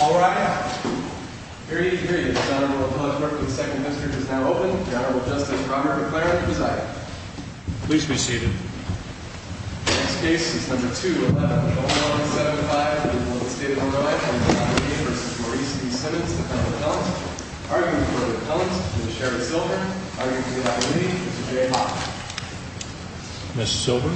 All right, here he is. The second district is now open. The Honorable Justice Robert McLaren preside. Please be seated. Next case is number 2175. The state of Hawaii versus Maurice E Simmons. Arguing for repellent is Sheriff Silver. Arguing for the ability is Jay Hock. Ms. Silver?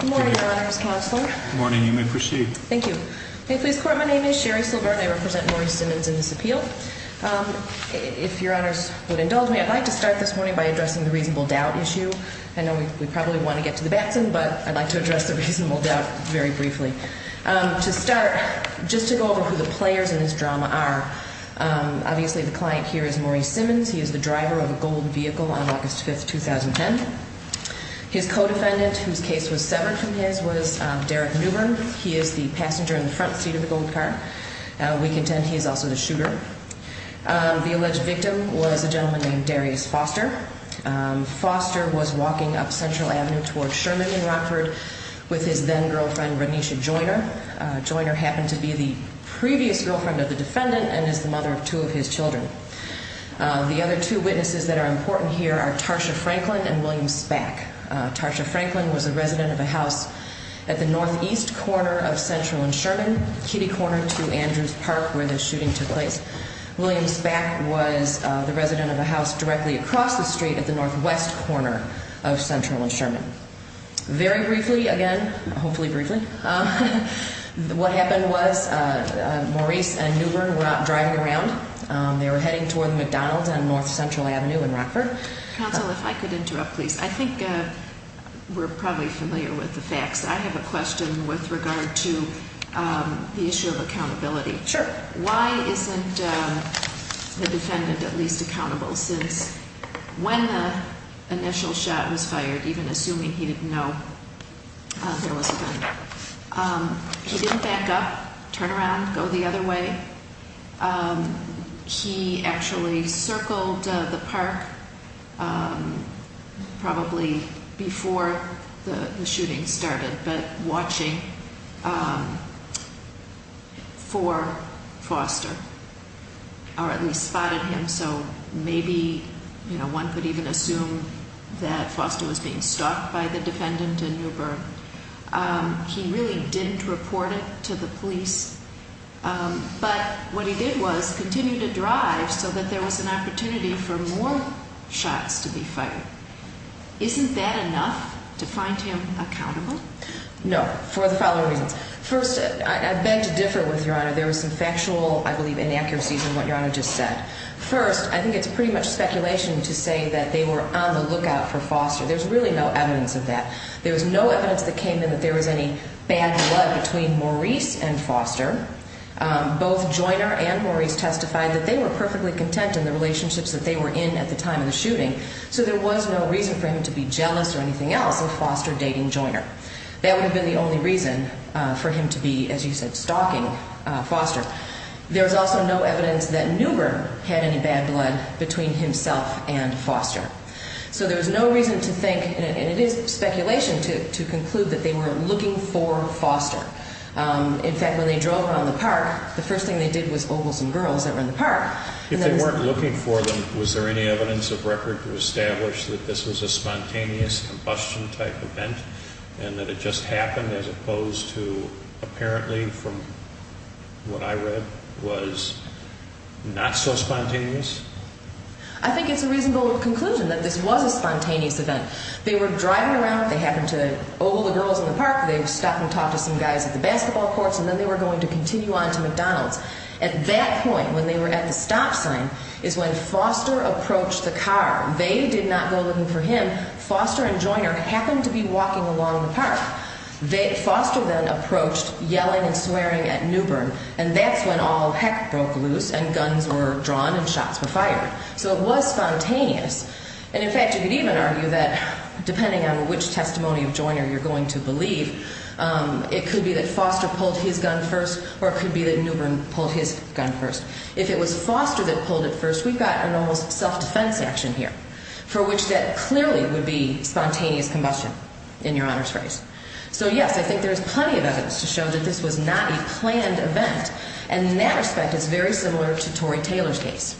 Good morning, Your Honors Counselor. Good morning. You may proceed. Thank you. May it please the Court, my name is Sherry Silver and I represent Maurice Simmons in this appeal. If Your Honors would indulge me, I'd like to start this morning by addressing the reasonable doubt issue. I know we probably want to get to the Batson, but I'd like to address the reasonable doubt very briefly. To start, just to go over who the players in this drama are, obviously the client here is Maurice Simmons. He is the driver of a gold vehicle on August 5, 2010. His co-defendant, whose case was severed from his, was Derek Newbern. He is the passenger in the front seat of the gold car. We contend he is also the shooter. The alleged victim was a gentleman named Darius Foster. Foster was walking up Central Avenue toward Sherman in Rockford with his then-girlfriend, Renisha Joyner. Joyner happened to be the previous girlfriend of the defendant and is the mother of two of his children. The other two witnesses that are important here are Tarsha Franklin and William Spack. Tarsha Franklin was a resident of a house at the northeast corner of Central and Sherman, kitty corner to Andrews Park where the shooting took place. William Spack was the resident of a house directly across the street at the northwest corner of Central and Sherman. Very briefly, again, hopefully briefly, what happened was Maurice and Newbern were out driving around. They were heading toward McDonald's on North Central Avenue in Rockford. Counsel, if I could interrupt, please. I think we're probably familiar with the facts. I have a question with regard to the issue of accountability. Sure. Why isn't the defendant at least accountable since when the initial shot was fired, even assuming he didn't know there was a gun, he didn't back up, turn around, go the other way. He actually circled the park probably before the shooting started but watching for Foster or at least spotted him. So maybe one could even assume that Foster was being stalked by the defendant and Newbern. He really didn't report it to the police. But what he did was continue to drive so that there was an opportunity for more shots to be fired. Isn't that enough to find him accountable? No, for the following reasons. First, I beg to differ with Your Honor. There was some factual, I believe, inaccuracies in what Your Honor just said. First, I think it's pretty much speculation to say that they were on the lookout for Foster. There's really no evidence of that. There was no evidence that came in that there was any bad blood between Maurice and Foster. Both Joyner and Maurice testified that they were perfectly content in the relationships that they were in at the time of the shooting. So there was no reason for him to be jealous or anything else of Foster dating Joyner. That would have been the only reason for him to be, as you said, stalking Foster. There was also no evidence that Newbern had any bad blood between himself and Foster. So there was no reason to think, and it is speculation, to conclude that they were looking for Foster. In fact, when they drove around the park, the first thing they did was ogle some girls that were in the park. If they weren't looking for them, was there any evidence of record to establish that this was a spontaneous combustion-type event and that it just happened as opposed to apparently from what I read was not so spontaneous? I think it's a reasonable conclusion that this was a spontaneous event. They were driving around. They happened to ogle the girls in the park. They stopped and talked to some guys at the basketball courts, and then they were going to continue on to McDonald's. At that point, when they were at the stop sign, is when Foster approached the car. They did not go looking for him. Foster and Joyner happened to be walking along the park. Foster then approached, yelling and swearing at Newbern, and that's when all heck broke loose and guns were drawn and shots were fired. So it was spontaneous. And, in fact, you could even argue that, depending on which testimony of Joyner you're going to believe, it could be that Foster pulled his gun first or it could be that Newbern pulled his gun first. If it was Foster that pulled it first, we've got an almost self-defense action here, for which that clearly would be spontaneous combustion, in Your Honor's face. So, yes, I think there is plenty of evidence to show that this was not a planned event, and in that respect it's very similar to Torrey Taylor's case.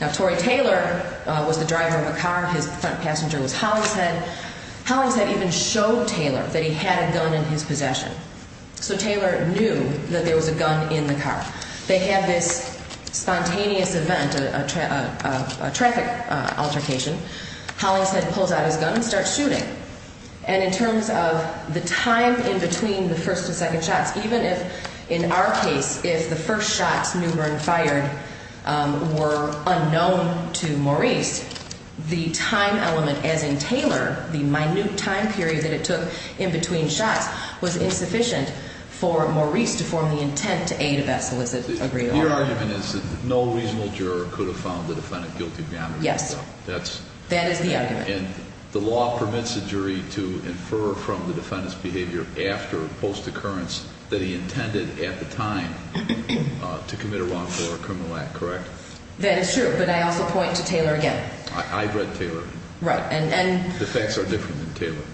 Now, Torrey Taylor was the driver of a car. His front passenger was Hollingshead. Hollingshead even showed Taylor that he had a gun in his possession. So Taylor knew that there was a gun in the car. They had this spontaneous event, a traffic altercation. Hollingshead pulls out his gun and starts shooting. And in terms of the time in between the first and second shots, even if, in our case, if the first shots Newbern fired were unknown to Maurice, the time element, as in Taylor, the minute time period that it took in between shots, was insufficient for Maurice to form the intent to aid a vessel, as it agreed. Your argument is that no reasonable juror could have found the defendant guilty beyond a reasonable doubt. Yes. That is the argument. And the law permits a jury to infer from the defendant's behavior after a post-occurrence that he intended at the time to commit a wrongful or a criminal act, correct? That is true, but I also point to Taylor again. I've read Taylor. Right. The facts are different than Taylor.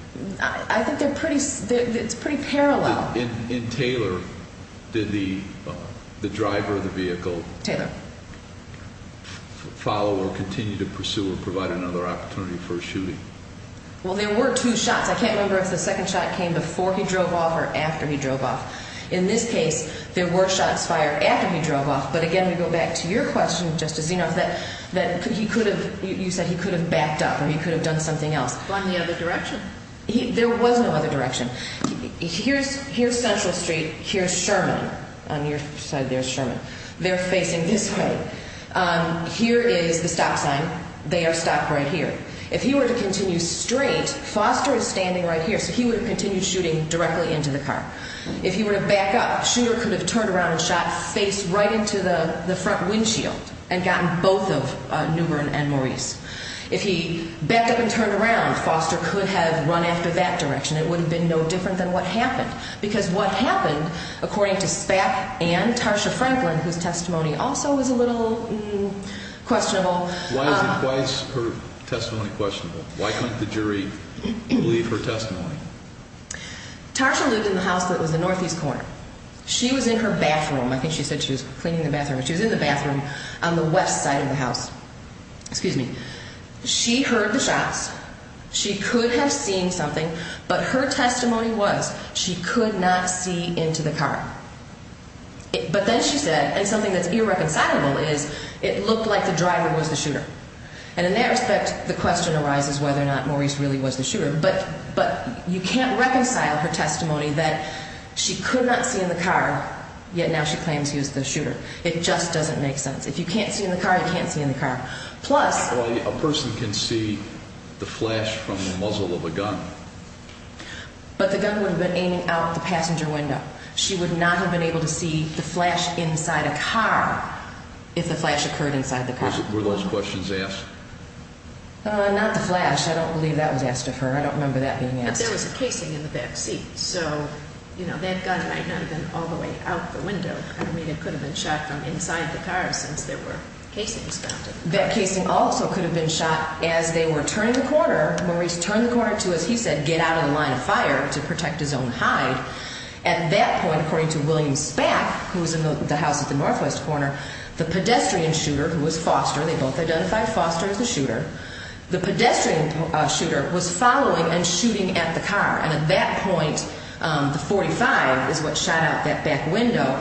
I think they're pretty, it's pretty parallel. In Taylor, did the driver of the vehicle follow or continue to pursue or provide another opportunity for a shooting? Well, there were two shots. I can't remember if the second shot came before he drove off or after he drove off. In this case, there were shots fired after he drove off. But, again, we go back to your question, Justice Zinoff, that he could have, you said he could have backed up or he could have done something else. On the other direction. There was no other direction. Here's Central Street. Here's Sherman. On your side there is Sherman. They're facing this way. Here is the stop sign. They are stopped right here. If he were to continue straight, Foster is standing right here, so he would have continued shooting directly into the car. If he were to back up, Shooter could have turned around and shot face right into the front windshield and gotten both of Newbern and Maurice. If he backed up and turned around, Foster could have run after that direction. It would have been no different than what happened, because what happened, according to Spak and Tarsha Franklin, whose testimony also is a little questionable. Why is her testimony questionable? Why couldn't the jury believe her testimony? Tarsha lived in the house that was in northeast corner. She was in her bathroom. I think she said she was cleaning the bathroom. She was in the bathroom on the west side of the house. Excuse me. She heard the shots. She could have seen something, but her testimony was she could not see into the car. But then she said, and something that's irreconcilable is it looked like the driver was the shooter. And in that respect, the question arises whether or not Maurice really was the shooter. But you can't reconcile her testimony that she could not see in the car, yet now she claims he was the shooter. It just doesn't make sense. If you can't see in the car, you can't see in the car. Plus a person can see the flash from the muzzle of a gun. But the gun would have been aiming out the passenger window. She would not have been able to see the flash inside a car if the flash occurred inside the car. Were those questions asked? Not the flash. I don't believe that was asked of her. I don't remember that being asked. But there was a casing in the back seat. So, you know, that gun might not have been all the way out the window. I mean, it could have been shot from inside the car since there were casings mounted. That casing also could have been shot as they were turning the corner. Maurice turned the corner to, as he said, get out of the line of fire to protect his own hide. At that point, according to William Spack, who was in the house at the northwest corner, the pedestrian shooter, who was Foster, they both identified Foster as the shooter, the pedestrian shooter was following and shooting at the car. And at that point, the .45 is what shot out that back window.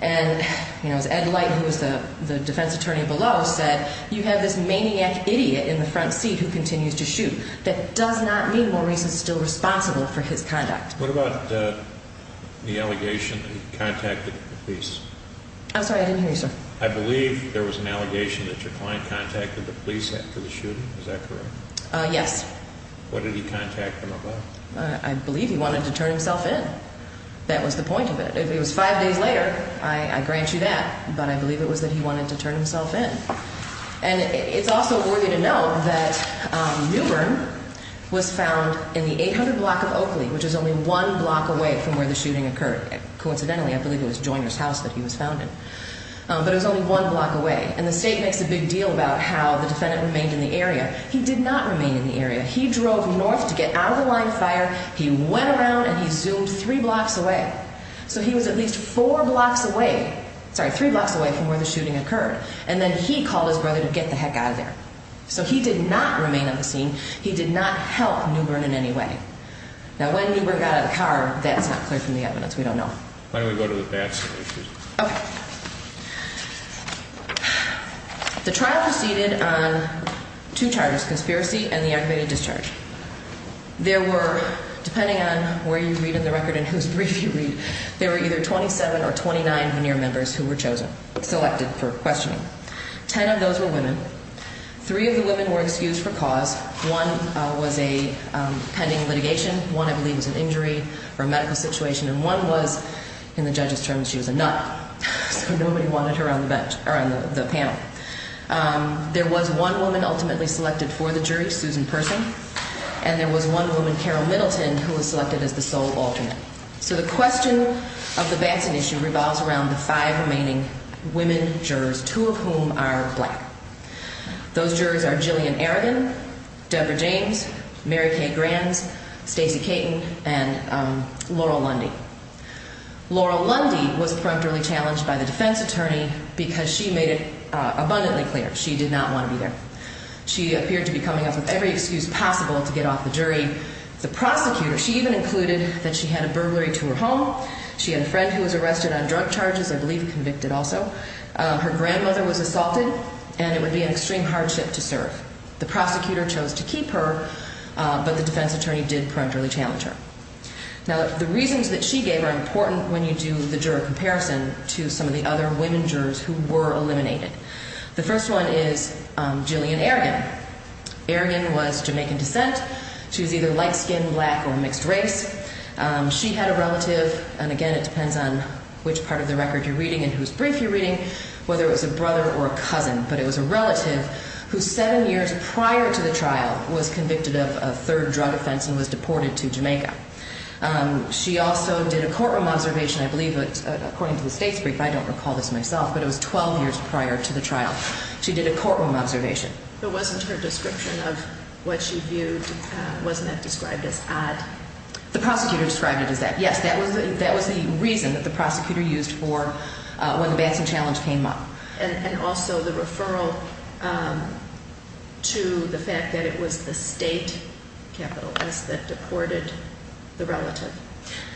And, you know, as Ed Light, who was the defense attorney below, said, you have this maniac idiot in the front seat who continues to shoot. That does not mean Maurice is still responsible for his conduct. What about the allegation that he contacted the police? I'm sorry. I didn't hear you, sir. I believe there was an allegation that your client contacted the police after the shooting. Is that correct? Yes. What did he contact them about? I believe he wanted to turn himself in. That was the point of it. If it was five days later, I grant you that. But I believe it was that he wanted to turn himself in. And it's also worthy to note that Newbern was found in the 800 block of Oakley, which is only one block away from where the shooting occurred. Coincidentally, I believe it was Joyner's house that he was found in. But it was only one block away. And the state makes a big deal about how the defendant remained in the area. He did not remain in the area. He drove north to get out of the line of fire. He went around and he zoomed three blocks away. So he was at least four blocks away, sorry, three blocks away from where the shooting occurred. And then he called his brother to get the heck out of there. So he did not remain on the scene. He did not help Newbern in any way. Now, when Newbern got out of the car, that's not clear from the evidence. We don't know. Why don't we go to the facts? Okay. The trial proceeded on two charges, conspiracy and the activated discharge. There were, depending on where you read in the record and whose brief you read, there were either 27 or 29 veneer members who were chosen, selected for questioning. Ten of those were women. Three of the women were excused for cause. One was a pending litigation. One, I believe, was an injury or a medical situation. And one was, in the judge's terms, she was a nut. So nobody wanted her on the panel. There was one woman ultimately selected for the jury, Susan Person. And there was one woman, Carol Middleton, who was selected as the sole alternate. So the question of the Batson issue revolves around the five remaining women jurors, two of whom are black. Those jurors are Jillian Aragon, Debra James, Mary Kay Granz, Stacey Caton, and Laurel Lundy. Laurel Lundy was characterly challenged by the defense attorney because she made it abundantly clear she did not want to be there. She appeared to be coming up with every excuse possible to get off the jury. The prosecutor, she even included that she had a burglary to her home. She had a friend who was arrested on drug charges, I believe convicted also. Her grandmother was assaulted, and it would be an extreme hardship to serve. The prosecutor chose to keep her, but the defense attorney did parentally challenge her. Now, the reasons that she gave are important when you do the juror comparison to some of the other women jurors who were eliminated. The first one is Jillian Aragon. Aragon was Jamaican descent. She was either light-skinned, black, or mixed race. She had a relative, and again, it depends on which part of the record you're reading and whose brief you're reading, whether it was a brother or a cousin, but it was a relative who seven years prior to the trial was convicted of a third drug offense and was deported to Jamaica. She also did a courtroom observation, I believe, according to the state's brief. I don't recall this myself, but it was 12 years prior to the trial. She did a courtroom observation. But wasn't her description of what she viewed, wasn't that described as odd? The prosecutor described it as that, yes. That was the reason that the prosecutor used for when the Batson challenge came up. And also the referral to the fact that it was the state, capital S, that deported the relative.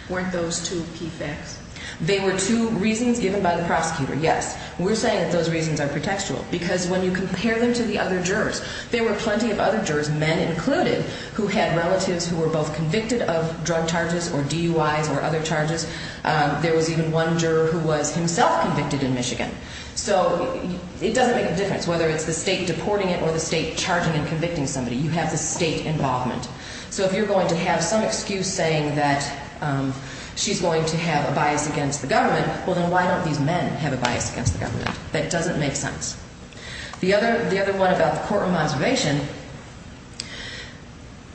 Weren't those two PFACs? They were two reasons given by the prosecutor, yes. We're saying that those reasons are pretextual because when you compare them to the other jurors, there were plenty of other jurors, men included, who had relatives who were both convicted of drug charges or DUIs or other charges. There was even one juror who was himself convicted in Michigan. So it doesn't make a difference whether it's the state deporting it or the state charging and convicting somebody. You have the state involvement. So if you're going to have some excuse saying that she's going to have a bias against the government, well, then why don't these men have a bias against the government? That doesn't make sense. The other one about the courtroom observation,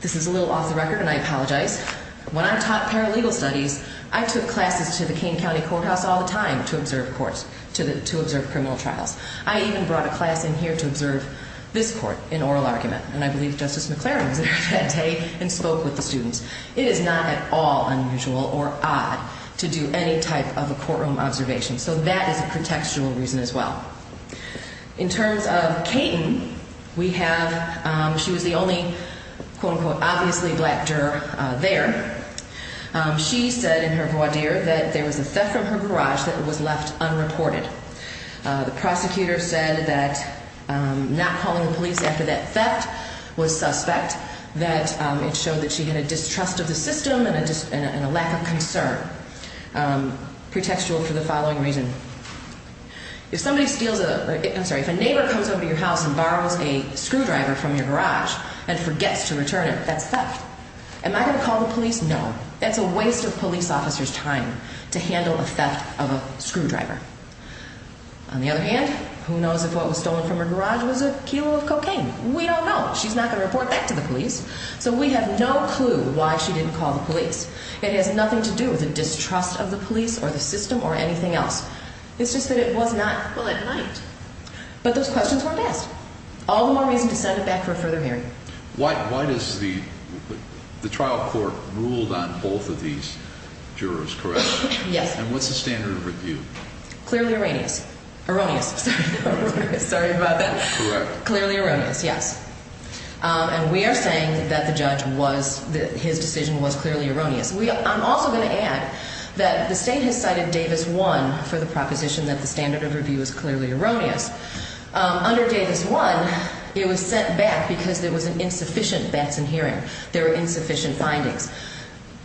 this is a little off the record and I apologize. When I taught paralegal studies, I took classes to the King County Courthouse all the time to observe courts, to observe criminal trials. I even brought a class in here to observe this court in oral argument. And I believe Justice McClaren was there that day and spoke with the students. It is not at all unusual or odd to do any type of a courtroom observation. So that is a contextual reason as well. In terms of Kayton, we have she was the only, quote, unquote, obviously black juror there. She said in her voir dire that there was a theft from her garage that was left unreported. The prosecutor said that not calling the police after that theft was suspect, that it showed that she had a distrust of the system and a lack of concern. Pretextual for the following reason. If somebody steals a, I'm sorry, if a neighbor comes over to your house and borrows a screwdriver from your garage and forgets to return it, that's theft. Am I going to call the police? No. That's a waste of police officers' time to handle a theft of a screwdriver. On the other hand, who knows if what was stolen from her garage was a kilo of cocaine. We don't know. She's not going to report back to the police. So we have no clue why she didn't call the police. It has nothing to do with a distrust of the police or the system or anything else. It's just that it was not. Well, it might. But those questions weren't asked. All the more reason to send it back for a further hearing. Why does the trial court ruled on both of these jurors, correct? Yes. And what's the standard of review? Clearly erroneous. Sorry about that. Correct. Clearly erroneous, yes. And we are saying that the judge was, that his decision was clearly erroneous. I'm also going to add that the state has cited Davis 1 for the proposition that the standard of review is clearly erroneous. Under Davis 1, it was sent back because there was an insufficient Batson hearing. There were insufficient findings.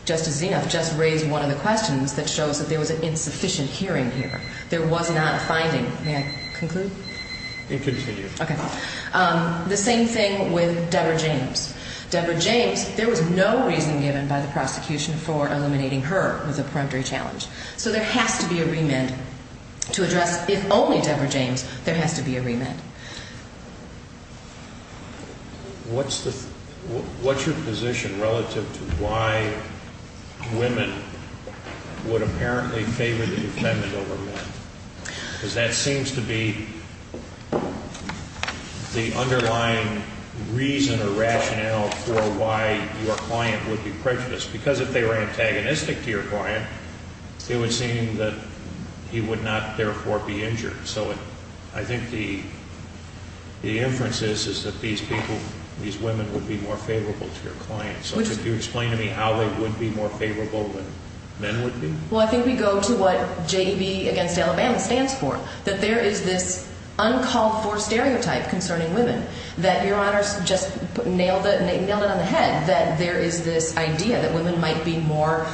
Justice Zenuf just raised one of the questions that shows that there was an insufficient hearing here. There was not a finding. May I conclude? You can continue. Okay. The same thing with Deborah James. Deborah James, there was no reason given by the prosecution for eliminating her with a peremptory challenge. So there has to be a remand to address, if only Deborah James, there has to be a remand. What's your position relative to why women would apparently favor the defendant over men? Because that seems to be the underlying reason or rationale for why your client would be prejudiced. Because if they were antagonistic to your client, it would seem that he would not, therefore, be injured. So I think the inference is that these people, these women, would be more favorable to your client. So could you explain to me how they would be more favorable than men would be? Well, I think we go to what J.D.B. against Alabama stands for, that there is this uncalled-for stereotype concerning women, that your Honor just nailed it on the head, that there is this idea that women might be more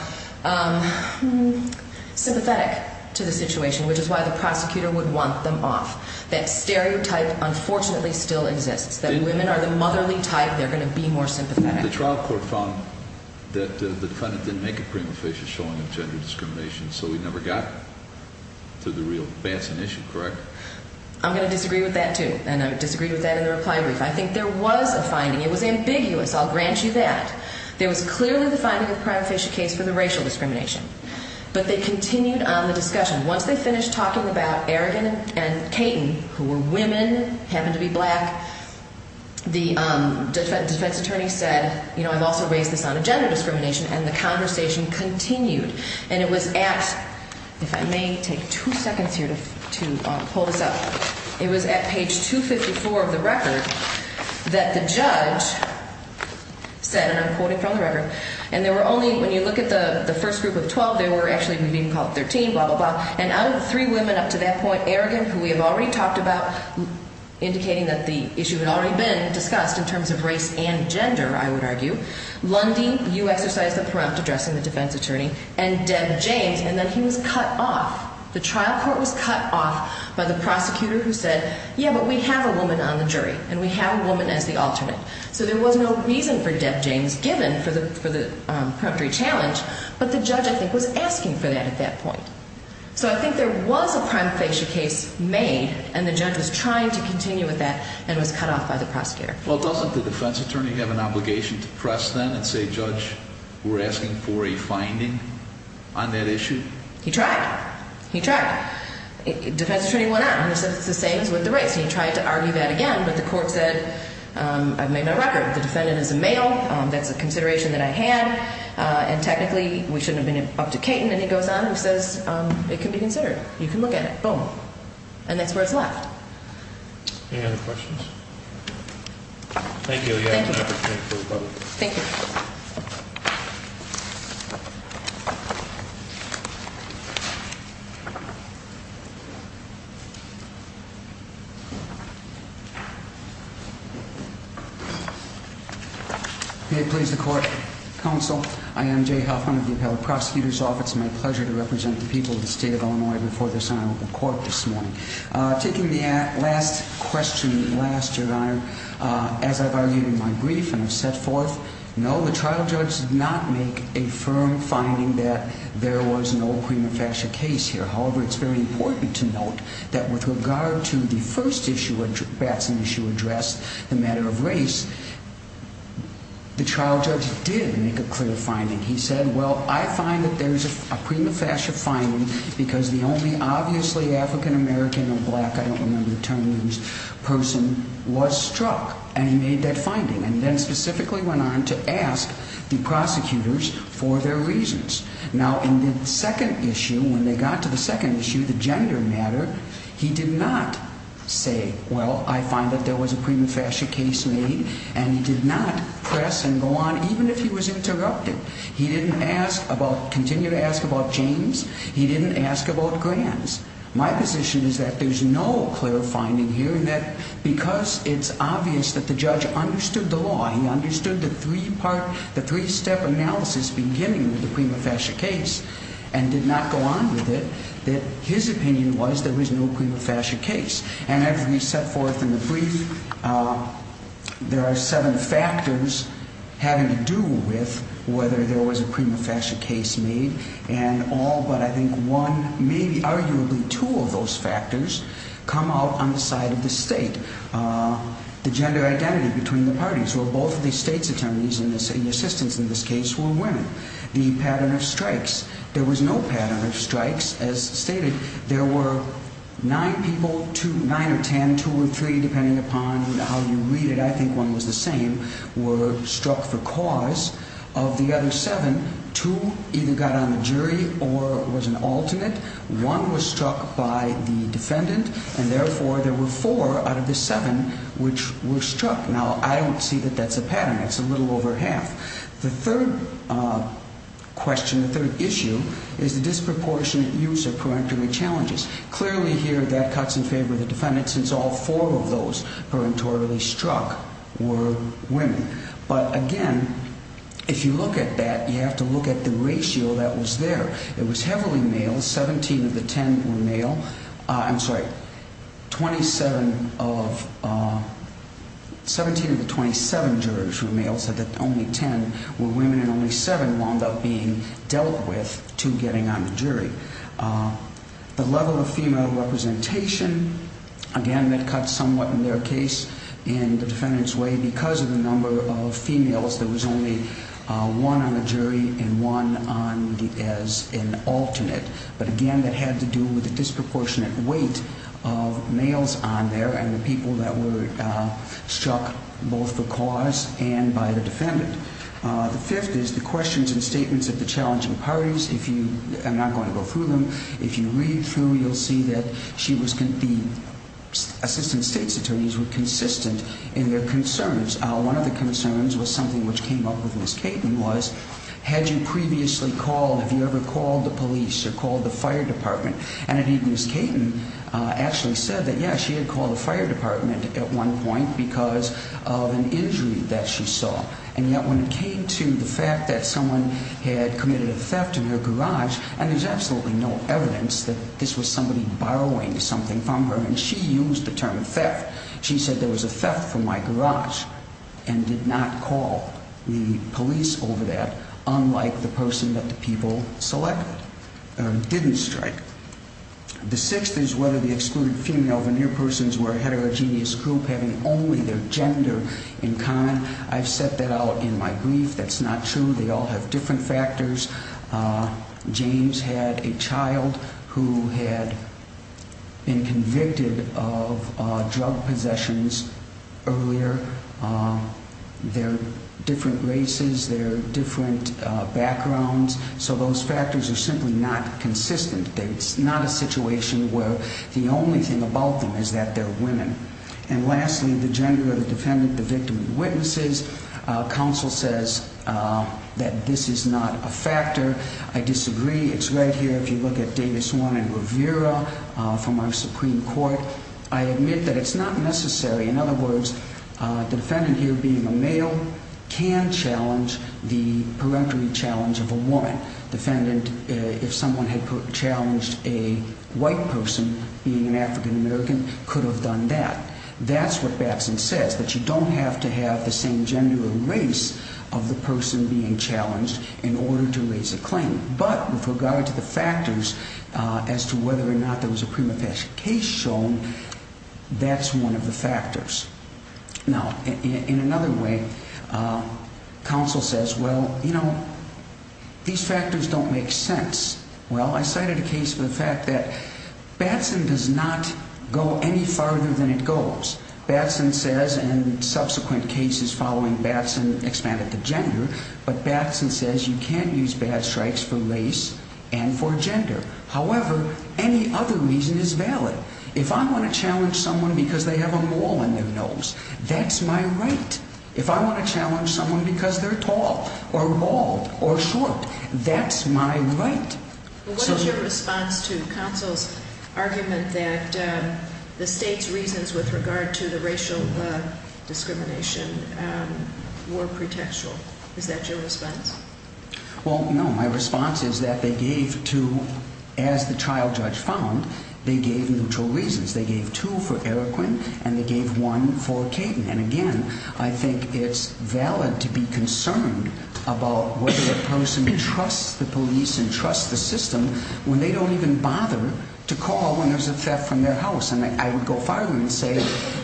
sympathetic to the situation, which is why the prosecutor would want them off. That stereotype, unfortunately, still exists, that women are the motherly type. They're going to be more sympathetic. The trial court found that the defendant didn't make a prima facie showing of gender discrimination, so we never got to the real Batson issue, correct? I'm going to disagree with that, too, and I disagreed with that in the reply brief. I think there was a finding. It was ambiguous. I'll grant you that. There was clearly the finding of the prima facie case for the racial discrimination. But they continued on the discussion. Once they finished talking about Aragon and Caton, who were women, happened to be black, the defense attorney said, you know, I've also raised this on a gender discrimination, and the conversation continued, and it was at, if I may take two seconds here to pull this up, it was at page 254 of the record that the judge said, and I'm quoting from the record, and there were only, when you look at the first group of 12, there were actually, we didn't even call it 13, blah, blah, blah, and out of the three women up to that point, Aragon, who we have already talked about, indicating that the issue had already been discussed in terms of race and gender, I would argue, Lundy, you exercised the preempt addressing the defense attorney, and Deb James, and then he was cut off. The trial court was cut off by the prosecutor who said, yeah, but we have a woman on the jury, and we have a woman as the alternate. So there was no reason for Deb James, given for the preemptory challenge, but the judge, I think, was asking for that at that point. So I think there was a prime facie case made, and the judge was trying to continue with that, and was cut off by the prosecutor. Well, doesn't the defense attorney have an obligation to press then and say, judge, we're asking for a finding on that issue? He tried. He tried. Defense attorney went out and said it's the same as with the race, and he tried to argue that again, but the court said, I've made my record, the defendant is a male, that's a consideration that I had, and technically we shouldn't have been up to Cayton, and he goes on and says, it can be considered. You can look at it. Boom. And that's where it's left. Any other questions? Thank you. You have an opportunity for the public. Thank you. May it please the court, counsel. I am Jay Hoffman of the Appellate Prosecutor's Office. It's my pleasure to represent the people of the state of Illinois before the Senate Open Court this morning. Taking the last question last, Your Honor, as I've argued in my brief and have set forth, no, the trial judge did not make a firm finding that there was no prima facie case here. However, it's very important to note that with regard to the first issue, that's an issue addressed, the matter of race, the trial judge did make a clear finding. He said, well, I find that there's a prima facie finding because the only obviously African American or black, I don't remember the term in this person, was struck, and he made that finding, and then specifically went on to ask the prosecutors for their reasons. Now, in the second issue, when they got to the second issue, the gender matter, he did not say, well, I find that there was a prima facie case made, and he did not press and go on even if he was interrupted. He didn't ask about, continue to ask about James. He didn't ask about Grants. My position is that there's no clear finding here and that because it's obvious that the judge understood the law, he understood the three-step analysis beginning with the prima facie case and did not go on with it, that his opinion was there was no prima facie case. And as we set forth in the brief, there are seven factors having to do with whether there was a prima facie case made, and all but I think one, maybe arguably two of those factors come out on the side of the state. The gender identity between the parties, where both of the state's attorneys and assistants in this case were women. The pattern of strikes. There was no pattern of strikes, as stated. There were nine people, two, nine or ten, two or three, depending upon how you read it. I think one was the same, were struck for cause of the other seven. Two either got on the jury or was an alternate. One was struck by the defendant, and therefore there were four out of the seven which were struck. Now, I don't see that that's a pattern. It's a little over half. The third question, the third issue, is the disproportionate use of parenteral challenges. Clearly here that cuts in favor of the defendant, since all four of those parenterally struck were women. But again, if you look at that, you have to look at the ratio that was there. It was heavily male. Seventeen of the ten were male. I'm sorry, twenty-seven of, seventeen of the twenty-seven jurors were male, so that only ten were women and only seven wound up being dealt with to getting on the jury. The level of female representation, again, that cuts somewhat in their case in the defendant's way because of the number of females, there was only one on the jury and one as an alternate. But again, that had to do with the disproportionate weight of males on there and the people that were struck both for cause and by the defendant. The fifth is the questions and statements of the challenging parties. I'm not going to go through them. If you read through, you'll see that the assistant state's attorneys were consistent in their concerns. One of the concerns was something which came up with Ms. Caton was, had you previously called, have you ever called the police or called the fire department? And indeed, Ms. Caton actually said that, yes, she had called the fire department at one point because of an injury that she saw. And yet when it came to the fact that someone had committed a theft in her garage, and there's absolutely no evidence that this was somebody borrowing something from her, and she used the term theft. She said there was a theft from my garage and did not call the police over that, unlike the person that the people selected or didn't strike. The sixth is whether the excluded female veneer persons were a heterogeneous group having only their gender in common. I've set that out in my brief. That's not true. They all have different factors. James had a child who had been convicted of drug possessions earlier. They're different races. They're different backgrounds. So those factors are simply not consistent. It's not a situation where the only thing about them is that they're women. And lastly, the gender of the defendant, the victim, and witnesses. Counsel says that this is not a factor. I disagree. It's right here. If you look at Davis Warren and Rivera from our Supreme Court, I admit that it's not necessary. In other words, the defendant here being a male can challenge the peremptory challenge of a woman. The defendant, if someone had challenged a white person being an African American, could have done that. That's what Batson says, that you don't have to have the same gender or race of the person being challenged in order to raise a claim. But with regard to the factors as to whether or not there was a prima facie case shown, that's one of the factors. Now, in another way, counsel says, well, you know, these factors don't make sense. Well, I cited a case for the fact that Batson does not go any farther than it goes. Batson says, and subsequent cases following Batson expanded the gender, but Batson says you can use bad strikes for race and for gender. However, any other reason is valid. If I want to challenge someone because they have a mole in their nose, that's my right. If I want to challenge someone because they're tall or bald or short, that's my right. What is your response to counsel's argument that the state's reasons with regard to the racial discrimination were pretextual? Is that your response? Well, no. My response is that they gave two, as the trial judge found, they gave neutral reasons. They gave two for Eroquin and they gave one for Kayden. And, again, I think it's valid to be concerned about whether a person trusts the police and trusts the system when they don't even bother to call when there's a theft from their house. And I would go farther and say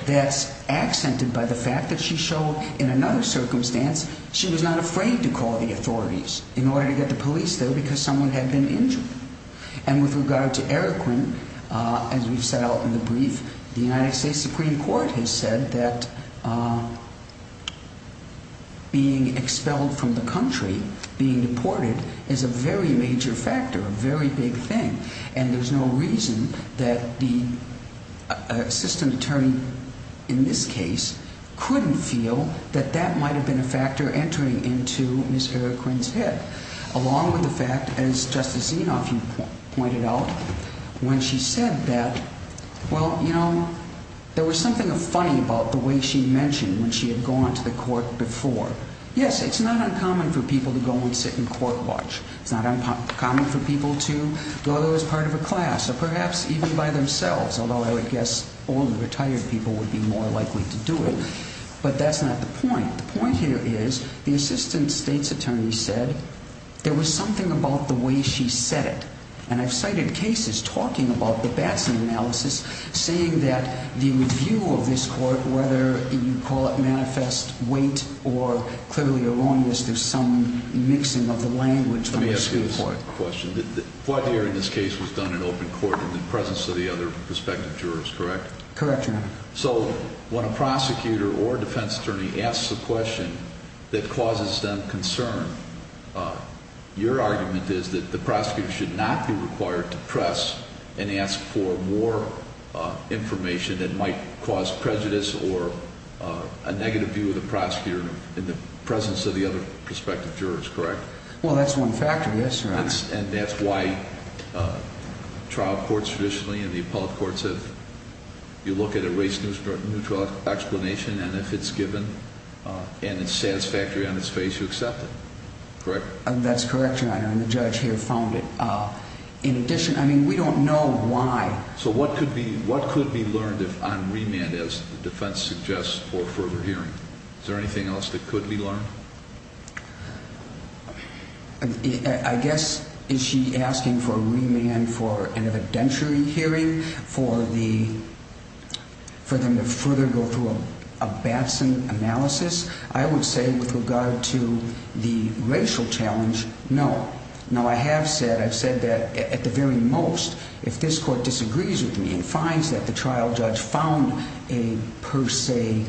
that's accented by the fact that she showed in another circumstance she was not afraid to call the authorities in order to get the police there because someone had been injured. And with regard to Eroquin, as we've set out in the brief, the United States Supreme Court has said that being expelled from the country, being deported, is a very major factor, a very big thing, and there's no reason that the assistant attorney in this case couldn't feel that that might have been a factor entering into Ms. Eroquin's head, along with the fact, as Justice Zinoff pointed out, when she said that, well, you know, there was something funny about the way she mentioned when she had gone to the court before. Yes, it's not uncommon for people to go and sit and court watch. It's not uncommon for people to go as part of a class or perhaps even by themselves, although I would guess older, retired people would be more likely to do it. But that's not the point. The point here is the assistant state's attorney said there was something about the way she said it, and I've cited cases talking about the Batson analysis saying that the review of this court, whether you call it manifest weight or clearly erroneous, there's some mixing of the language. Let me ask you this question. What here in this case was done in open court in the presence of the other prospective jurors, correct? Correct, Your Honor. So when a prosecutor or defense attorney asks a question that causes them concern, your argument is that the prosecutor should not be required to press and ask for more information that might cause prejudice or a negative view of the prosecutor in the presence of the other prospective jurors, correct? Well, that's one factor, yes, Your Honor. And that's why trial courts traditionally and the appellate courts have, you look at a race-neutral explanation and if it's given and it's satisfactory on its face, you accept it, correct? That's correct, Your Honor, and the judge here found it. In addition, I mean, we don't know why. So what could be learned on remand as the defense suggests for further hearing? Is there anything else that could be learned? I guess is she asking for remand for an evidentiary hearing for them to further go through a Batson analysis? I would say with regard to the racial challenge, no. Now, I have said, I've said that at the very most, if this court disagrees with me and it finds that the trial judge found a per se,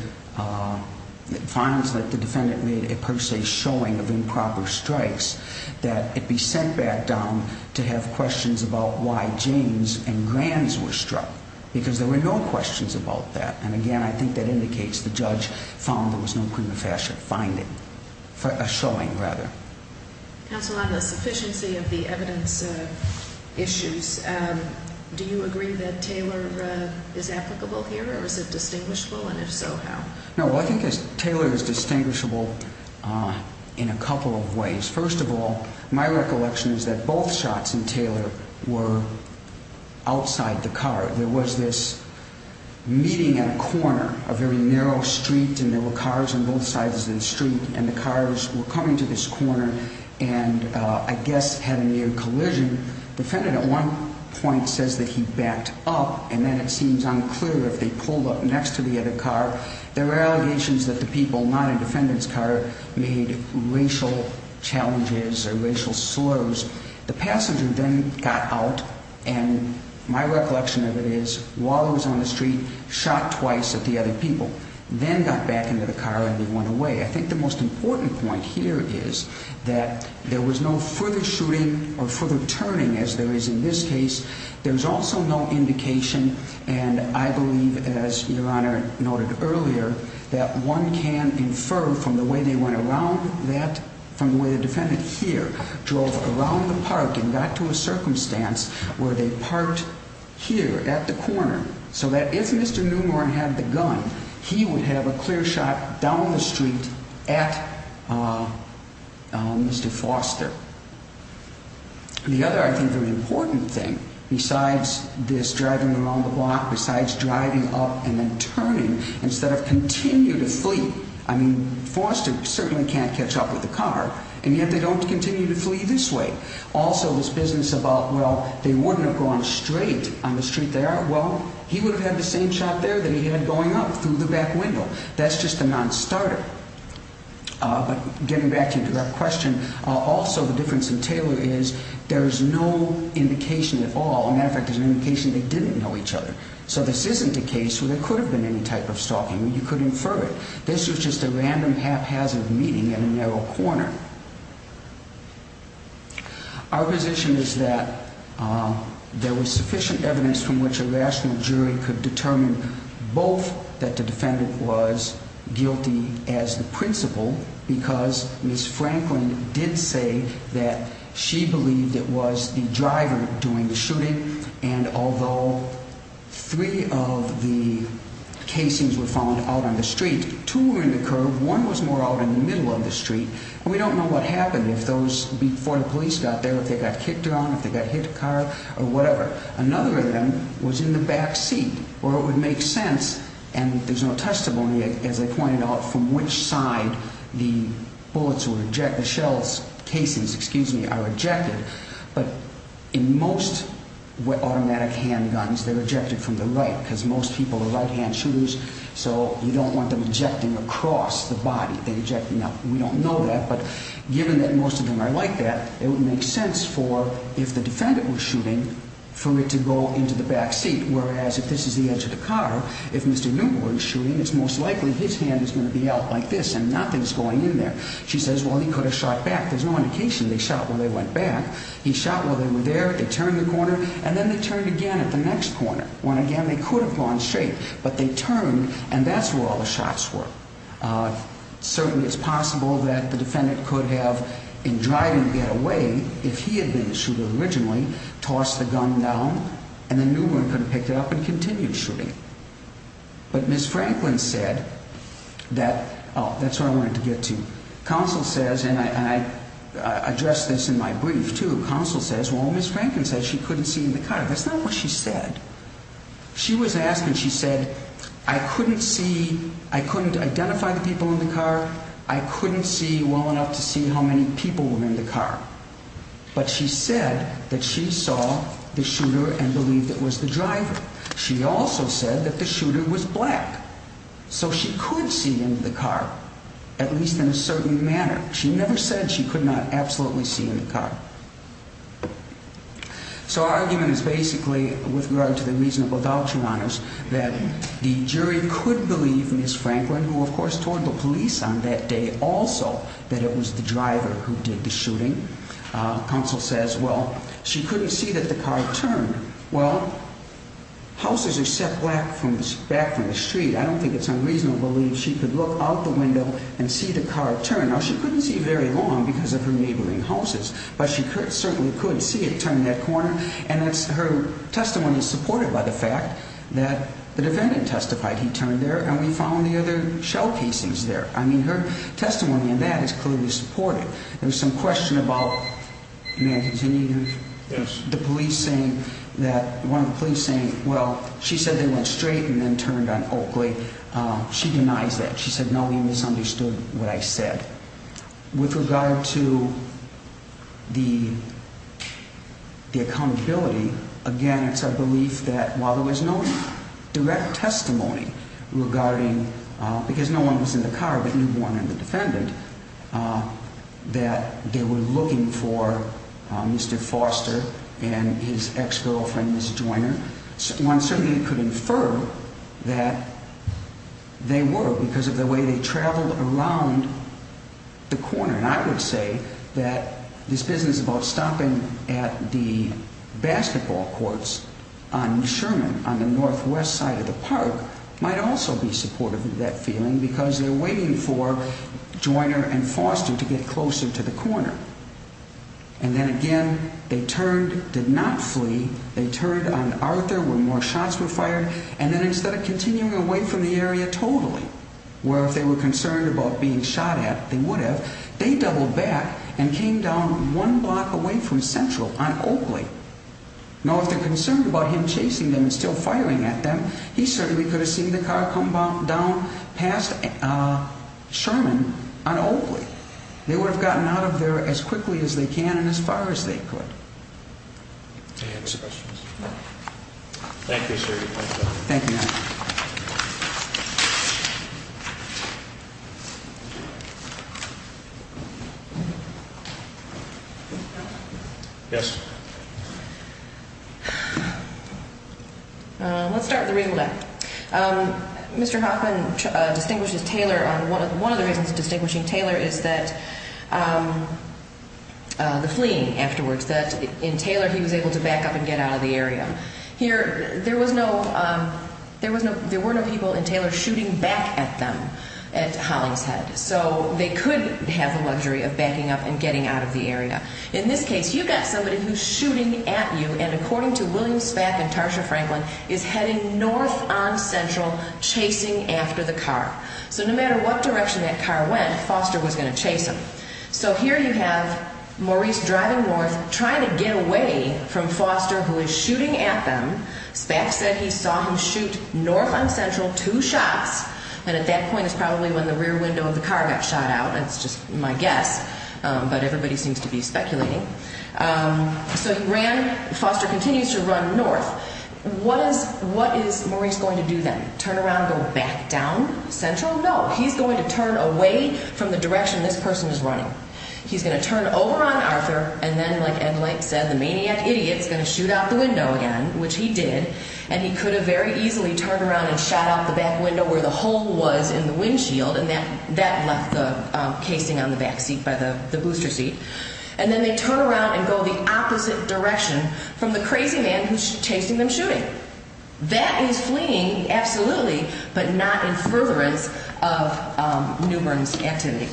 finds that the defendant made a per se showing of improper strikes, that it be sent back down to have questions about why James and Granz were struck, because there were no questions about that. And again, I think that indicates the judge found there was no prima facie finding, a showing rather. Counsel, on the sufficiency of the evidence issues, do you agree that Taylor is applicable here or is it distinguishable? And if so, how? No, I think Taylor is distinguishable in a couple of ways. First of all, my recollection is that both shots in Taylor were outside the car. There was this meeting at a corner, a very narrow street, and there were cars on both sides of the street, and the cars were coming to this corner and I guess had a near collision. The defendant at one point says that he backed up, and then it seems unclear if they pulled up next to the other car. There were allegations that the people not in the defendant's car made racial challenges or racial slows. The passenger then got out, and my recollection of it is, while he was on the street, shot twice at the other people, then got back into the car and then went away. I think the most important point here is that there was no further shooting or further turning, as there is in this case. There's also no indication, and I believe, as Your Honor noted earlier, that one can infer from the way they went around that, from the way the defendant here drove around the park and got to a circumstance where they parked here at the corner, so that if Mr. Newmore had the gun, he would have a clear shot down the street at Mr. Foster. The other, I think, very important thing, besides this driving around the block, besides driving up and then turning, instead of continue to flee, I mean, Foster certainly can't catch up with the car, and yet they don't continue to flee this way. Also, this business about, well, they wouldn't have gone straight on the street there. Well, he would have had the same shot there that he had going up through the back window. That's just a nonstarter. But getting back to your direct question, also the difference in Taylor is there is no indication at all. As a matter of fact, there's an indication they didn't know each other. So this isn't a case where there could have been any type of stalking. You could infer it. This was just a random haphazard meeting in a narrow corner. Our position is that there was sufficient evidence from which a rational jury could determine both that the defendant was guilty as the principal because Ms. Franklin did say that she believed it was the driver doing the shooting, and although three of the casings were found out on the street, two were in the curb, one was more out in the middle of the street, and we don't know what happened before the police got there, if they got kicked around, if they got hit in the car, or whatever. Another of them was in the back seat, or it would make sense, and there's no testimony, as I pointed out, from which side the bullets were ejected, the shells, casings, excuse me, are ejected. But in most automatic handguns, they're ejected from the right because most people are right-hand shooters, so you don't want them ejecting across the body. Now, we don't know that, but given that most of them are like that, it would make sense for, if the defendant was shooting, for it to go into the back seat, whereas if this is the edge of the car, if Mr. Newman were shooting, it's most likely his hand is going to be out like this and nothing's going in there. She says, well, he could have shot back. There's no indication they shot when they went back. He shot while they were there. They turned the corner, and then they turned again at the next corner. Went again. They could have gone straight, but they turned, and that's where all the shots were. Certainly, it's possible that the defendant could have, in driving the gun away, if he had been the shooter originally, tossed the gun down, and then Newman could have picked it up and continued shooting. But Ms. Franklin said that, oh, that's where I wanted to get to. Counsel says, and I address this in my brief, too. Counsel says, well, Ms. Franklin said she couldn't see in the car. That's not what she said. She was asking, she said, I couldn't see, I couldn't identify the people in the car, I couldn't see well enough to see how many people were in the car. But she said that she saw the shooter and believed it was the driver. She also said that the shooter was black. So she could see in the car, at least in a certain manner. She never said she could not absolutely see in the car. So our argument is basically, with regard to the reasonable voucher honors, that the jury could believe Ms. Franklin, who, of course, told the police on that day also that it was the driver who did the shooting. Counsel says, well, she couldn't see that the car turned. Well, houses are set back from the street. I don't think it's unreasonable to believe she could look out the window and see the car turn. Now, she couldn't see very long because of her neighboring houses, but she certainly could see it turn that corner. And her testimony is supported by the fact that the defendant testified he turned there and we found the other shell casings there. I mean, her testimony in that is clearly supported. There was some question about the police saying that one of the police saying, well, she said they went straight and then turned on Oakley. She denies that. She said, no, you misunderstood what I said. With regard to the accountability, again, it's our belief that while there was no direct testimony regarding, because no one was in the car but you, Warren, and the defendant, that they were looking for Mr. Foster and his ex-girlfriend, Ms. Joyner, one certainly could infer that they were because of the way they traveled around the corner. And I would say that this business about stopping at the basketball courts on Sherman on the northwest side of the park might also be supportive of that feeling because they're waiting for Joyner and Foster to get closer to the corner. And then again, they turned, did not flee. They turned on Arthur when more shots were fired. And then instead of continuing away from the area totally, where if they were concerned about being shot at, they would have, they doubled back and came down one block away from Central on Oakley. Now, if they're concerned about him chasing them and still firing at them, he certainly could have seen the car come down past Sherman on Oakley. They would have gotten out of there as quickly as they can and as far as they could. Any other questions? No. Thank you, sir. You're welcome. Thank you. Thank you. Yes. Let's start with the reason why. Mr. Hoffman distinguishes Taylor on one of the reasons distinguishing Taylor is that the fleeing afterwards, that in Taylor he was able to back up and get out of the area. Here, there was no, there were no people in Taylor shooting back at them at Hollingshead. So they could have the luxury of backing up and getting out of the area. In this case, you've got somebody who's shooting at you, and according to William Spack and Tarsha Franklin, is heading north on Central, chasing after the car. So no matter what direction that car went, Foster was going to chase him. So here you have Maurice driving north, trying to get away from Foster, who is shooting at them. Spack said he saw him shoot north on Central two shots, and at that point is probably when the rear window of the car got shot out. That's just my guess, but everybody seems to be speculating. So he ran. Foster continues to run north. What is Maurice going to do then? Turn around and go back down Central? No, he's going to turn away from the direction this person is running. He's going to turn over on Arthur, and then, like Ed Link said, the maniac idiot is going to shoot out the window again, which he did. And he could have very easily turned around and shot out the back window where the hole was in the windshield, and that left the casing on the back seat by the booster seat. And then they turn around and go the opposite direction from the crazy man who's chasing them shooting. That is fleeing, absolutely, but not in furtherance of Newbern's activity.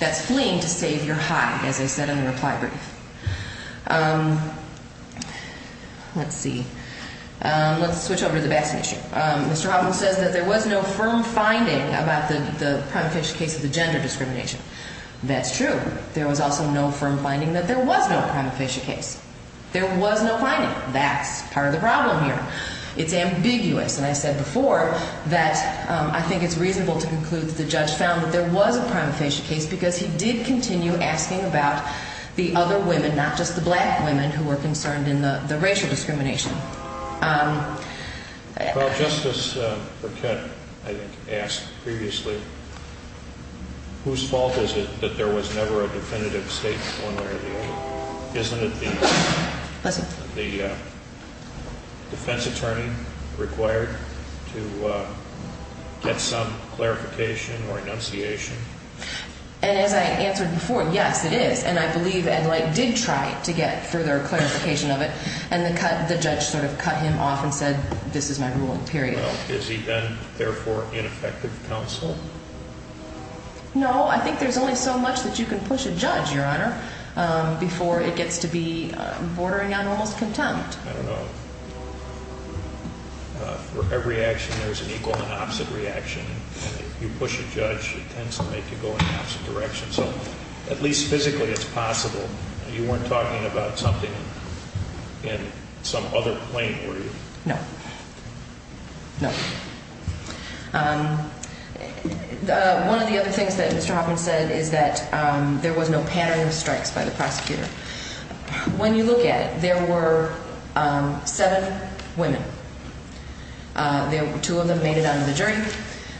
That's fleeing to save your hide, as I said in the reply brief. Let's see. Let's switch over to the basking issue. Mr. Hoffman says that there was no firm finding about the prima facie case of the gender discrimination. That's true. There was also no firm finding that there was no prima facie case. There was no finding. That's part of the problem here. It's ambiguous, and I said before that I think it's reasonable to conclude that the judge found that there was a prima facie case because he did continue asking about the other women, not just the black women, who were concerned in the racial discrimination. Well, Justice Burkett, I think, asked previously, whose fault is it that there was never a definitive statement one way or the other? Well, isn't it the defense attorney required to get some clarification or enunciation? And as I answered before, yes, it is, and I believe Ed Light did try to get further clarification of it, and the judge sort of cut him off and said, this is my ruling, period. Well, has he been, therefore, ineffective counsel? No. I think there's only so much that you can push a judge, Your Honor, before it gets to be bordering on almost contempt. I don't know. For every action, there's an equal and opposite reaction. And if you push a judge, it tends to make you go in the opposite direction. So at least physically it's possible. You weren't talking about something in some other plane, were you? No. No. One of the other things that Mr. Hoffman said is that there was no pattern of strikes by the prosecutor. When you look at it, there were seven women. Two of them made it out of the jury.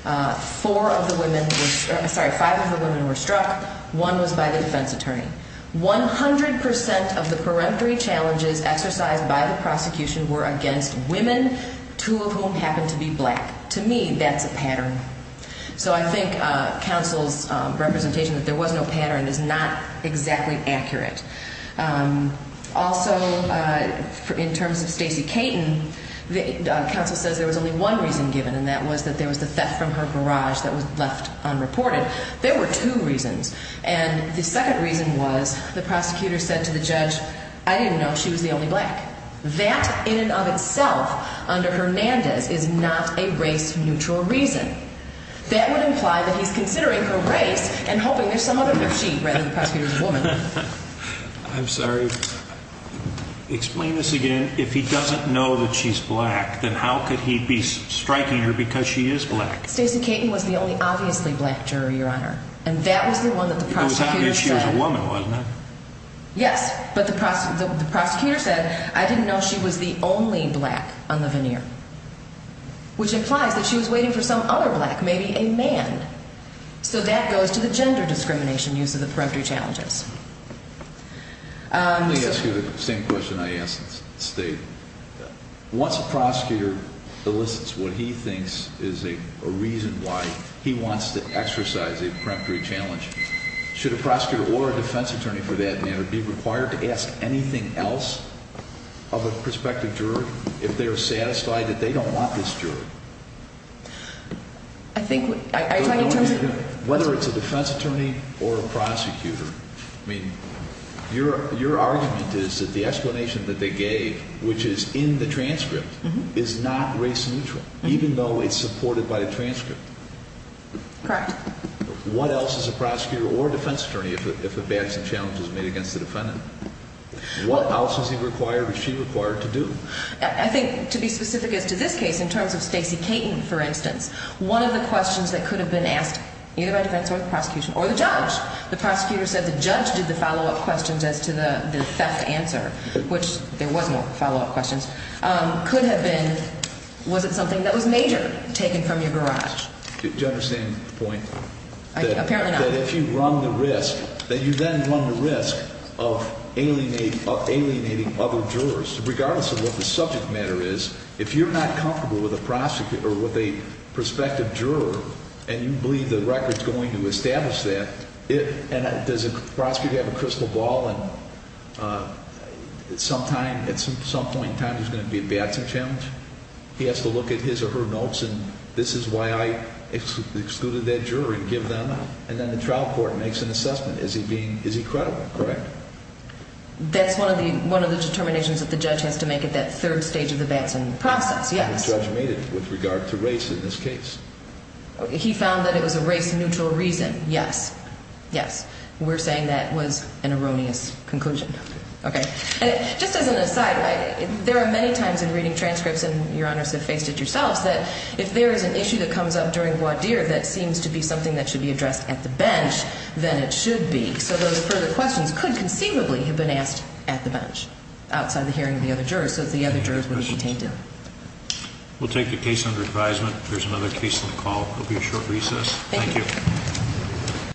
Five of the women were struck. One was by the defense attorney. One hundred percent of the peremptory challenges exercised by the prosecution were against women, two of whom happened to be black. To me, that's a pattern. So I think counsel's representation that there was no pattern is not exactly accurate. Also, in terms of Stacey Caton, counsel says there was only one reason given, and that was that there was the theft from her garage that was left unreported. There were two reasons. And the second reason was the prosecutor said to the judge, I didn't know she was the only black. That, in and of itself, under Hernandez, is not a race-neutral reason. That would imply that he's considering her race and hoping there's some other she rather than the prosecutor's woman. I'm sorry. Explain this again. If he doesn't know that she's black, then how could he be striking her because she is black? It was not that she was a woman, wasn't it? Yes, but the prosecutor said, I didn't know she was the only black on the veneer, which implies that she was waiting for some other black, maybe a man. So that goes to the gender discrimination use of the peremptory challenges. Let me ask you the same question I asked State. Once a prosecutor elicits what he thinks is a reason why he wants to exercise a peremptory challenge, should a prosecutor or a defense attorney, for that matter, be required to ask anything else of a prospective juror if they're satisfied that they don't want this juror? I think what I'm trying to tell you is whether it's a defense attorney or a prosecutor, I mean, your argument is that the explanation that they gave, which is in the transcript, is not race neutral, even though it's supported by the transcript. Correct. What else is a prosecutor or a defense attorney if a balancing challenge is made against the defendant? What else is he required or she required to do? I think to be specific as to this case, in terms of Stacey Caton, for instance, one of the questions that could have been asked either by defense or the prosecution or the judge, the prosecutor said the judge did the follow-up questions as to the theft answer, which there was more follow-up questions, could have been, was it something that was major, taken from your garage? Do you understand the point? Apparently not. That if you run the risk, that you then run the risk of alienating other jurors. Regardless of what the subject matter is, if you're not comfortable with a prosecutor or with a prospective juror and you believe the record's going to establish that, and does a prosecutor have a crystal ball and at some point in time there's going to be a balancing challenge? He has to look at his or her notes and this is why I excluded that juror and give them, and then the trial court makes an assessment. Is he credible, correct? That's one of the determinations that the judge has to make at that third stage of the balancing process, yes. The judge made it with regard to race in this case. He found that it was a race-neutral reason, yes. Yes. We're saying that was an erroneous conclusion. Okay. Just as an aside, there are many times in reading transcripts, and Your Honors have faced it yourselves, that if there is an issue that comes up during voir dire that seems to be something that should be addressed at the bench, then it should be, so those further questions could conceivably have been asked at the bench, outside the hearing of the other jurors, so the other jurors would have contained it. We'll take the case under advisement. There's another case on the call. There will be a short recess. Thank you.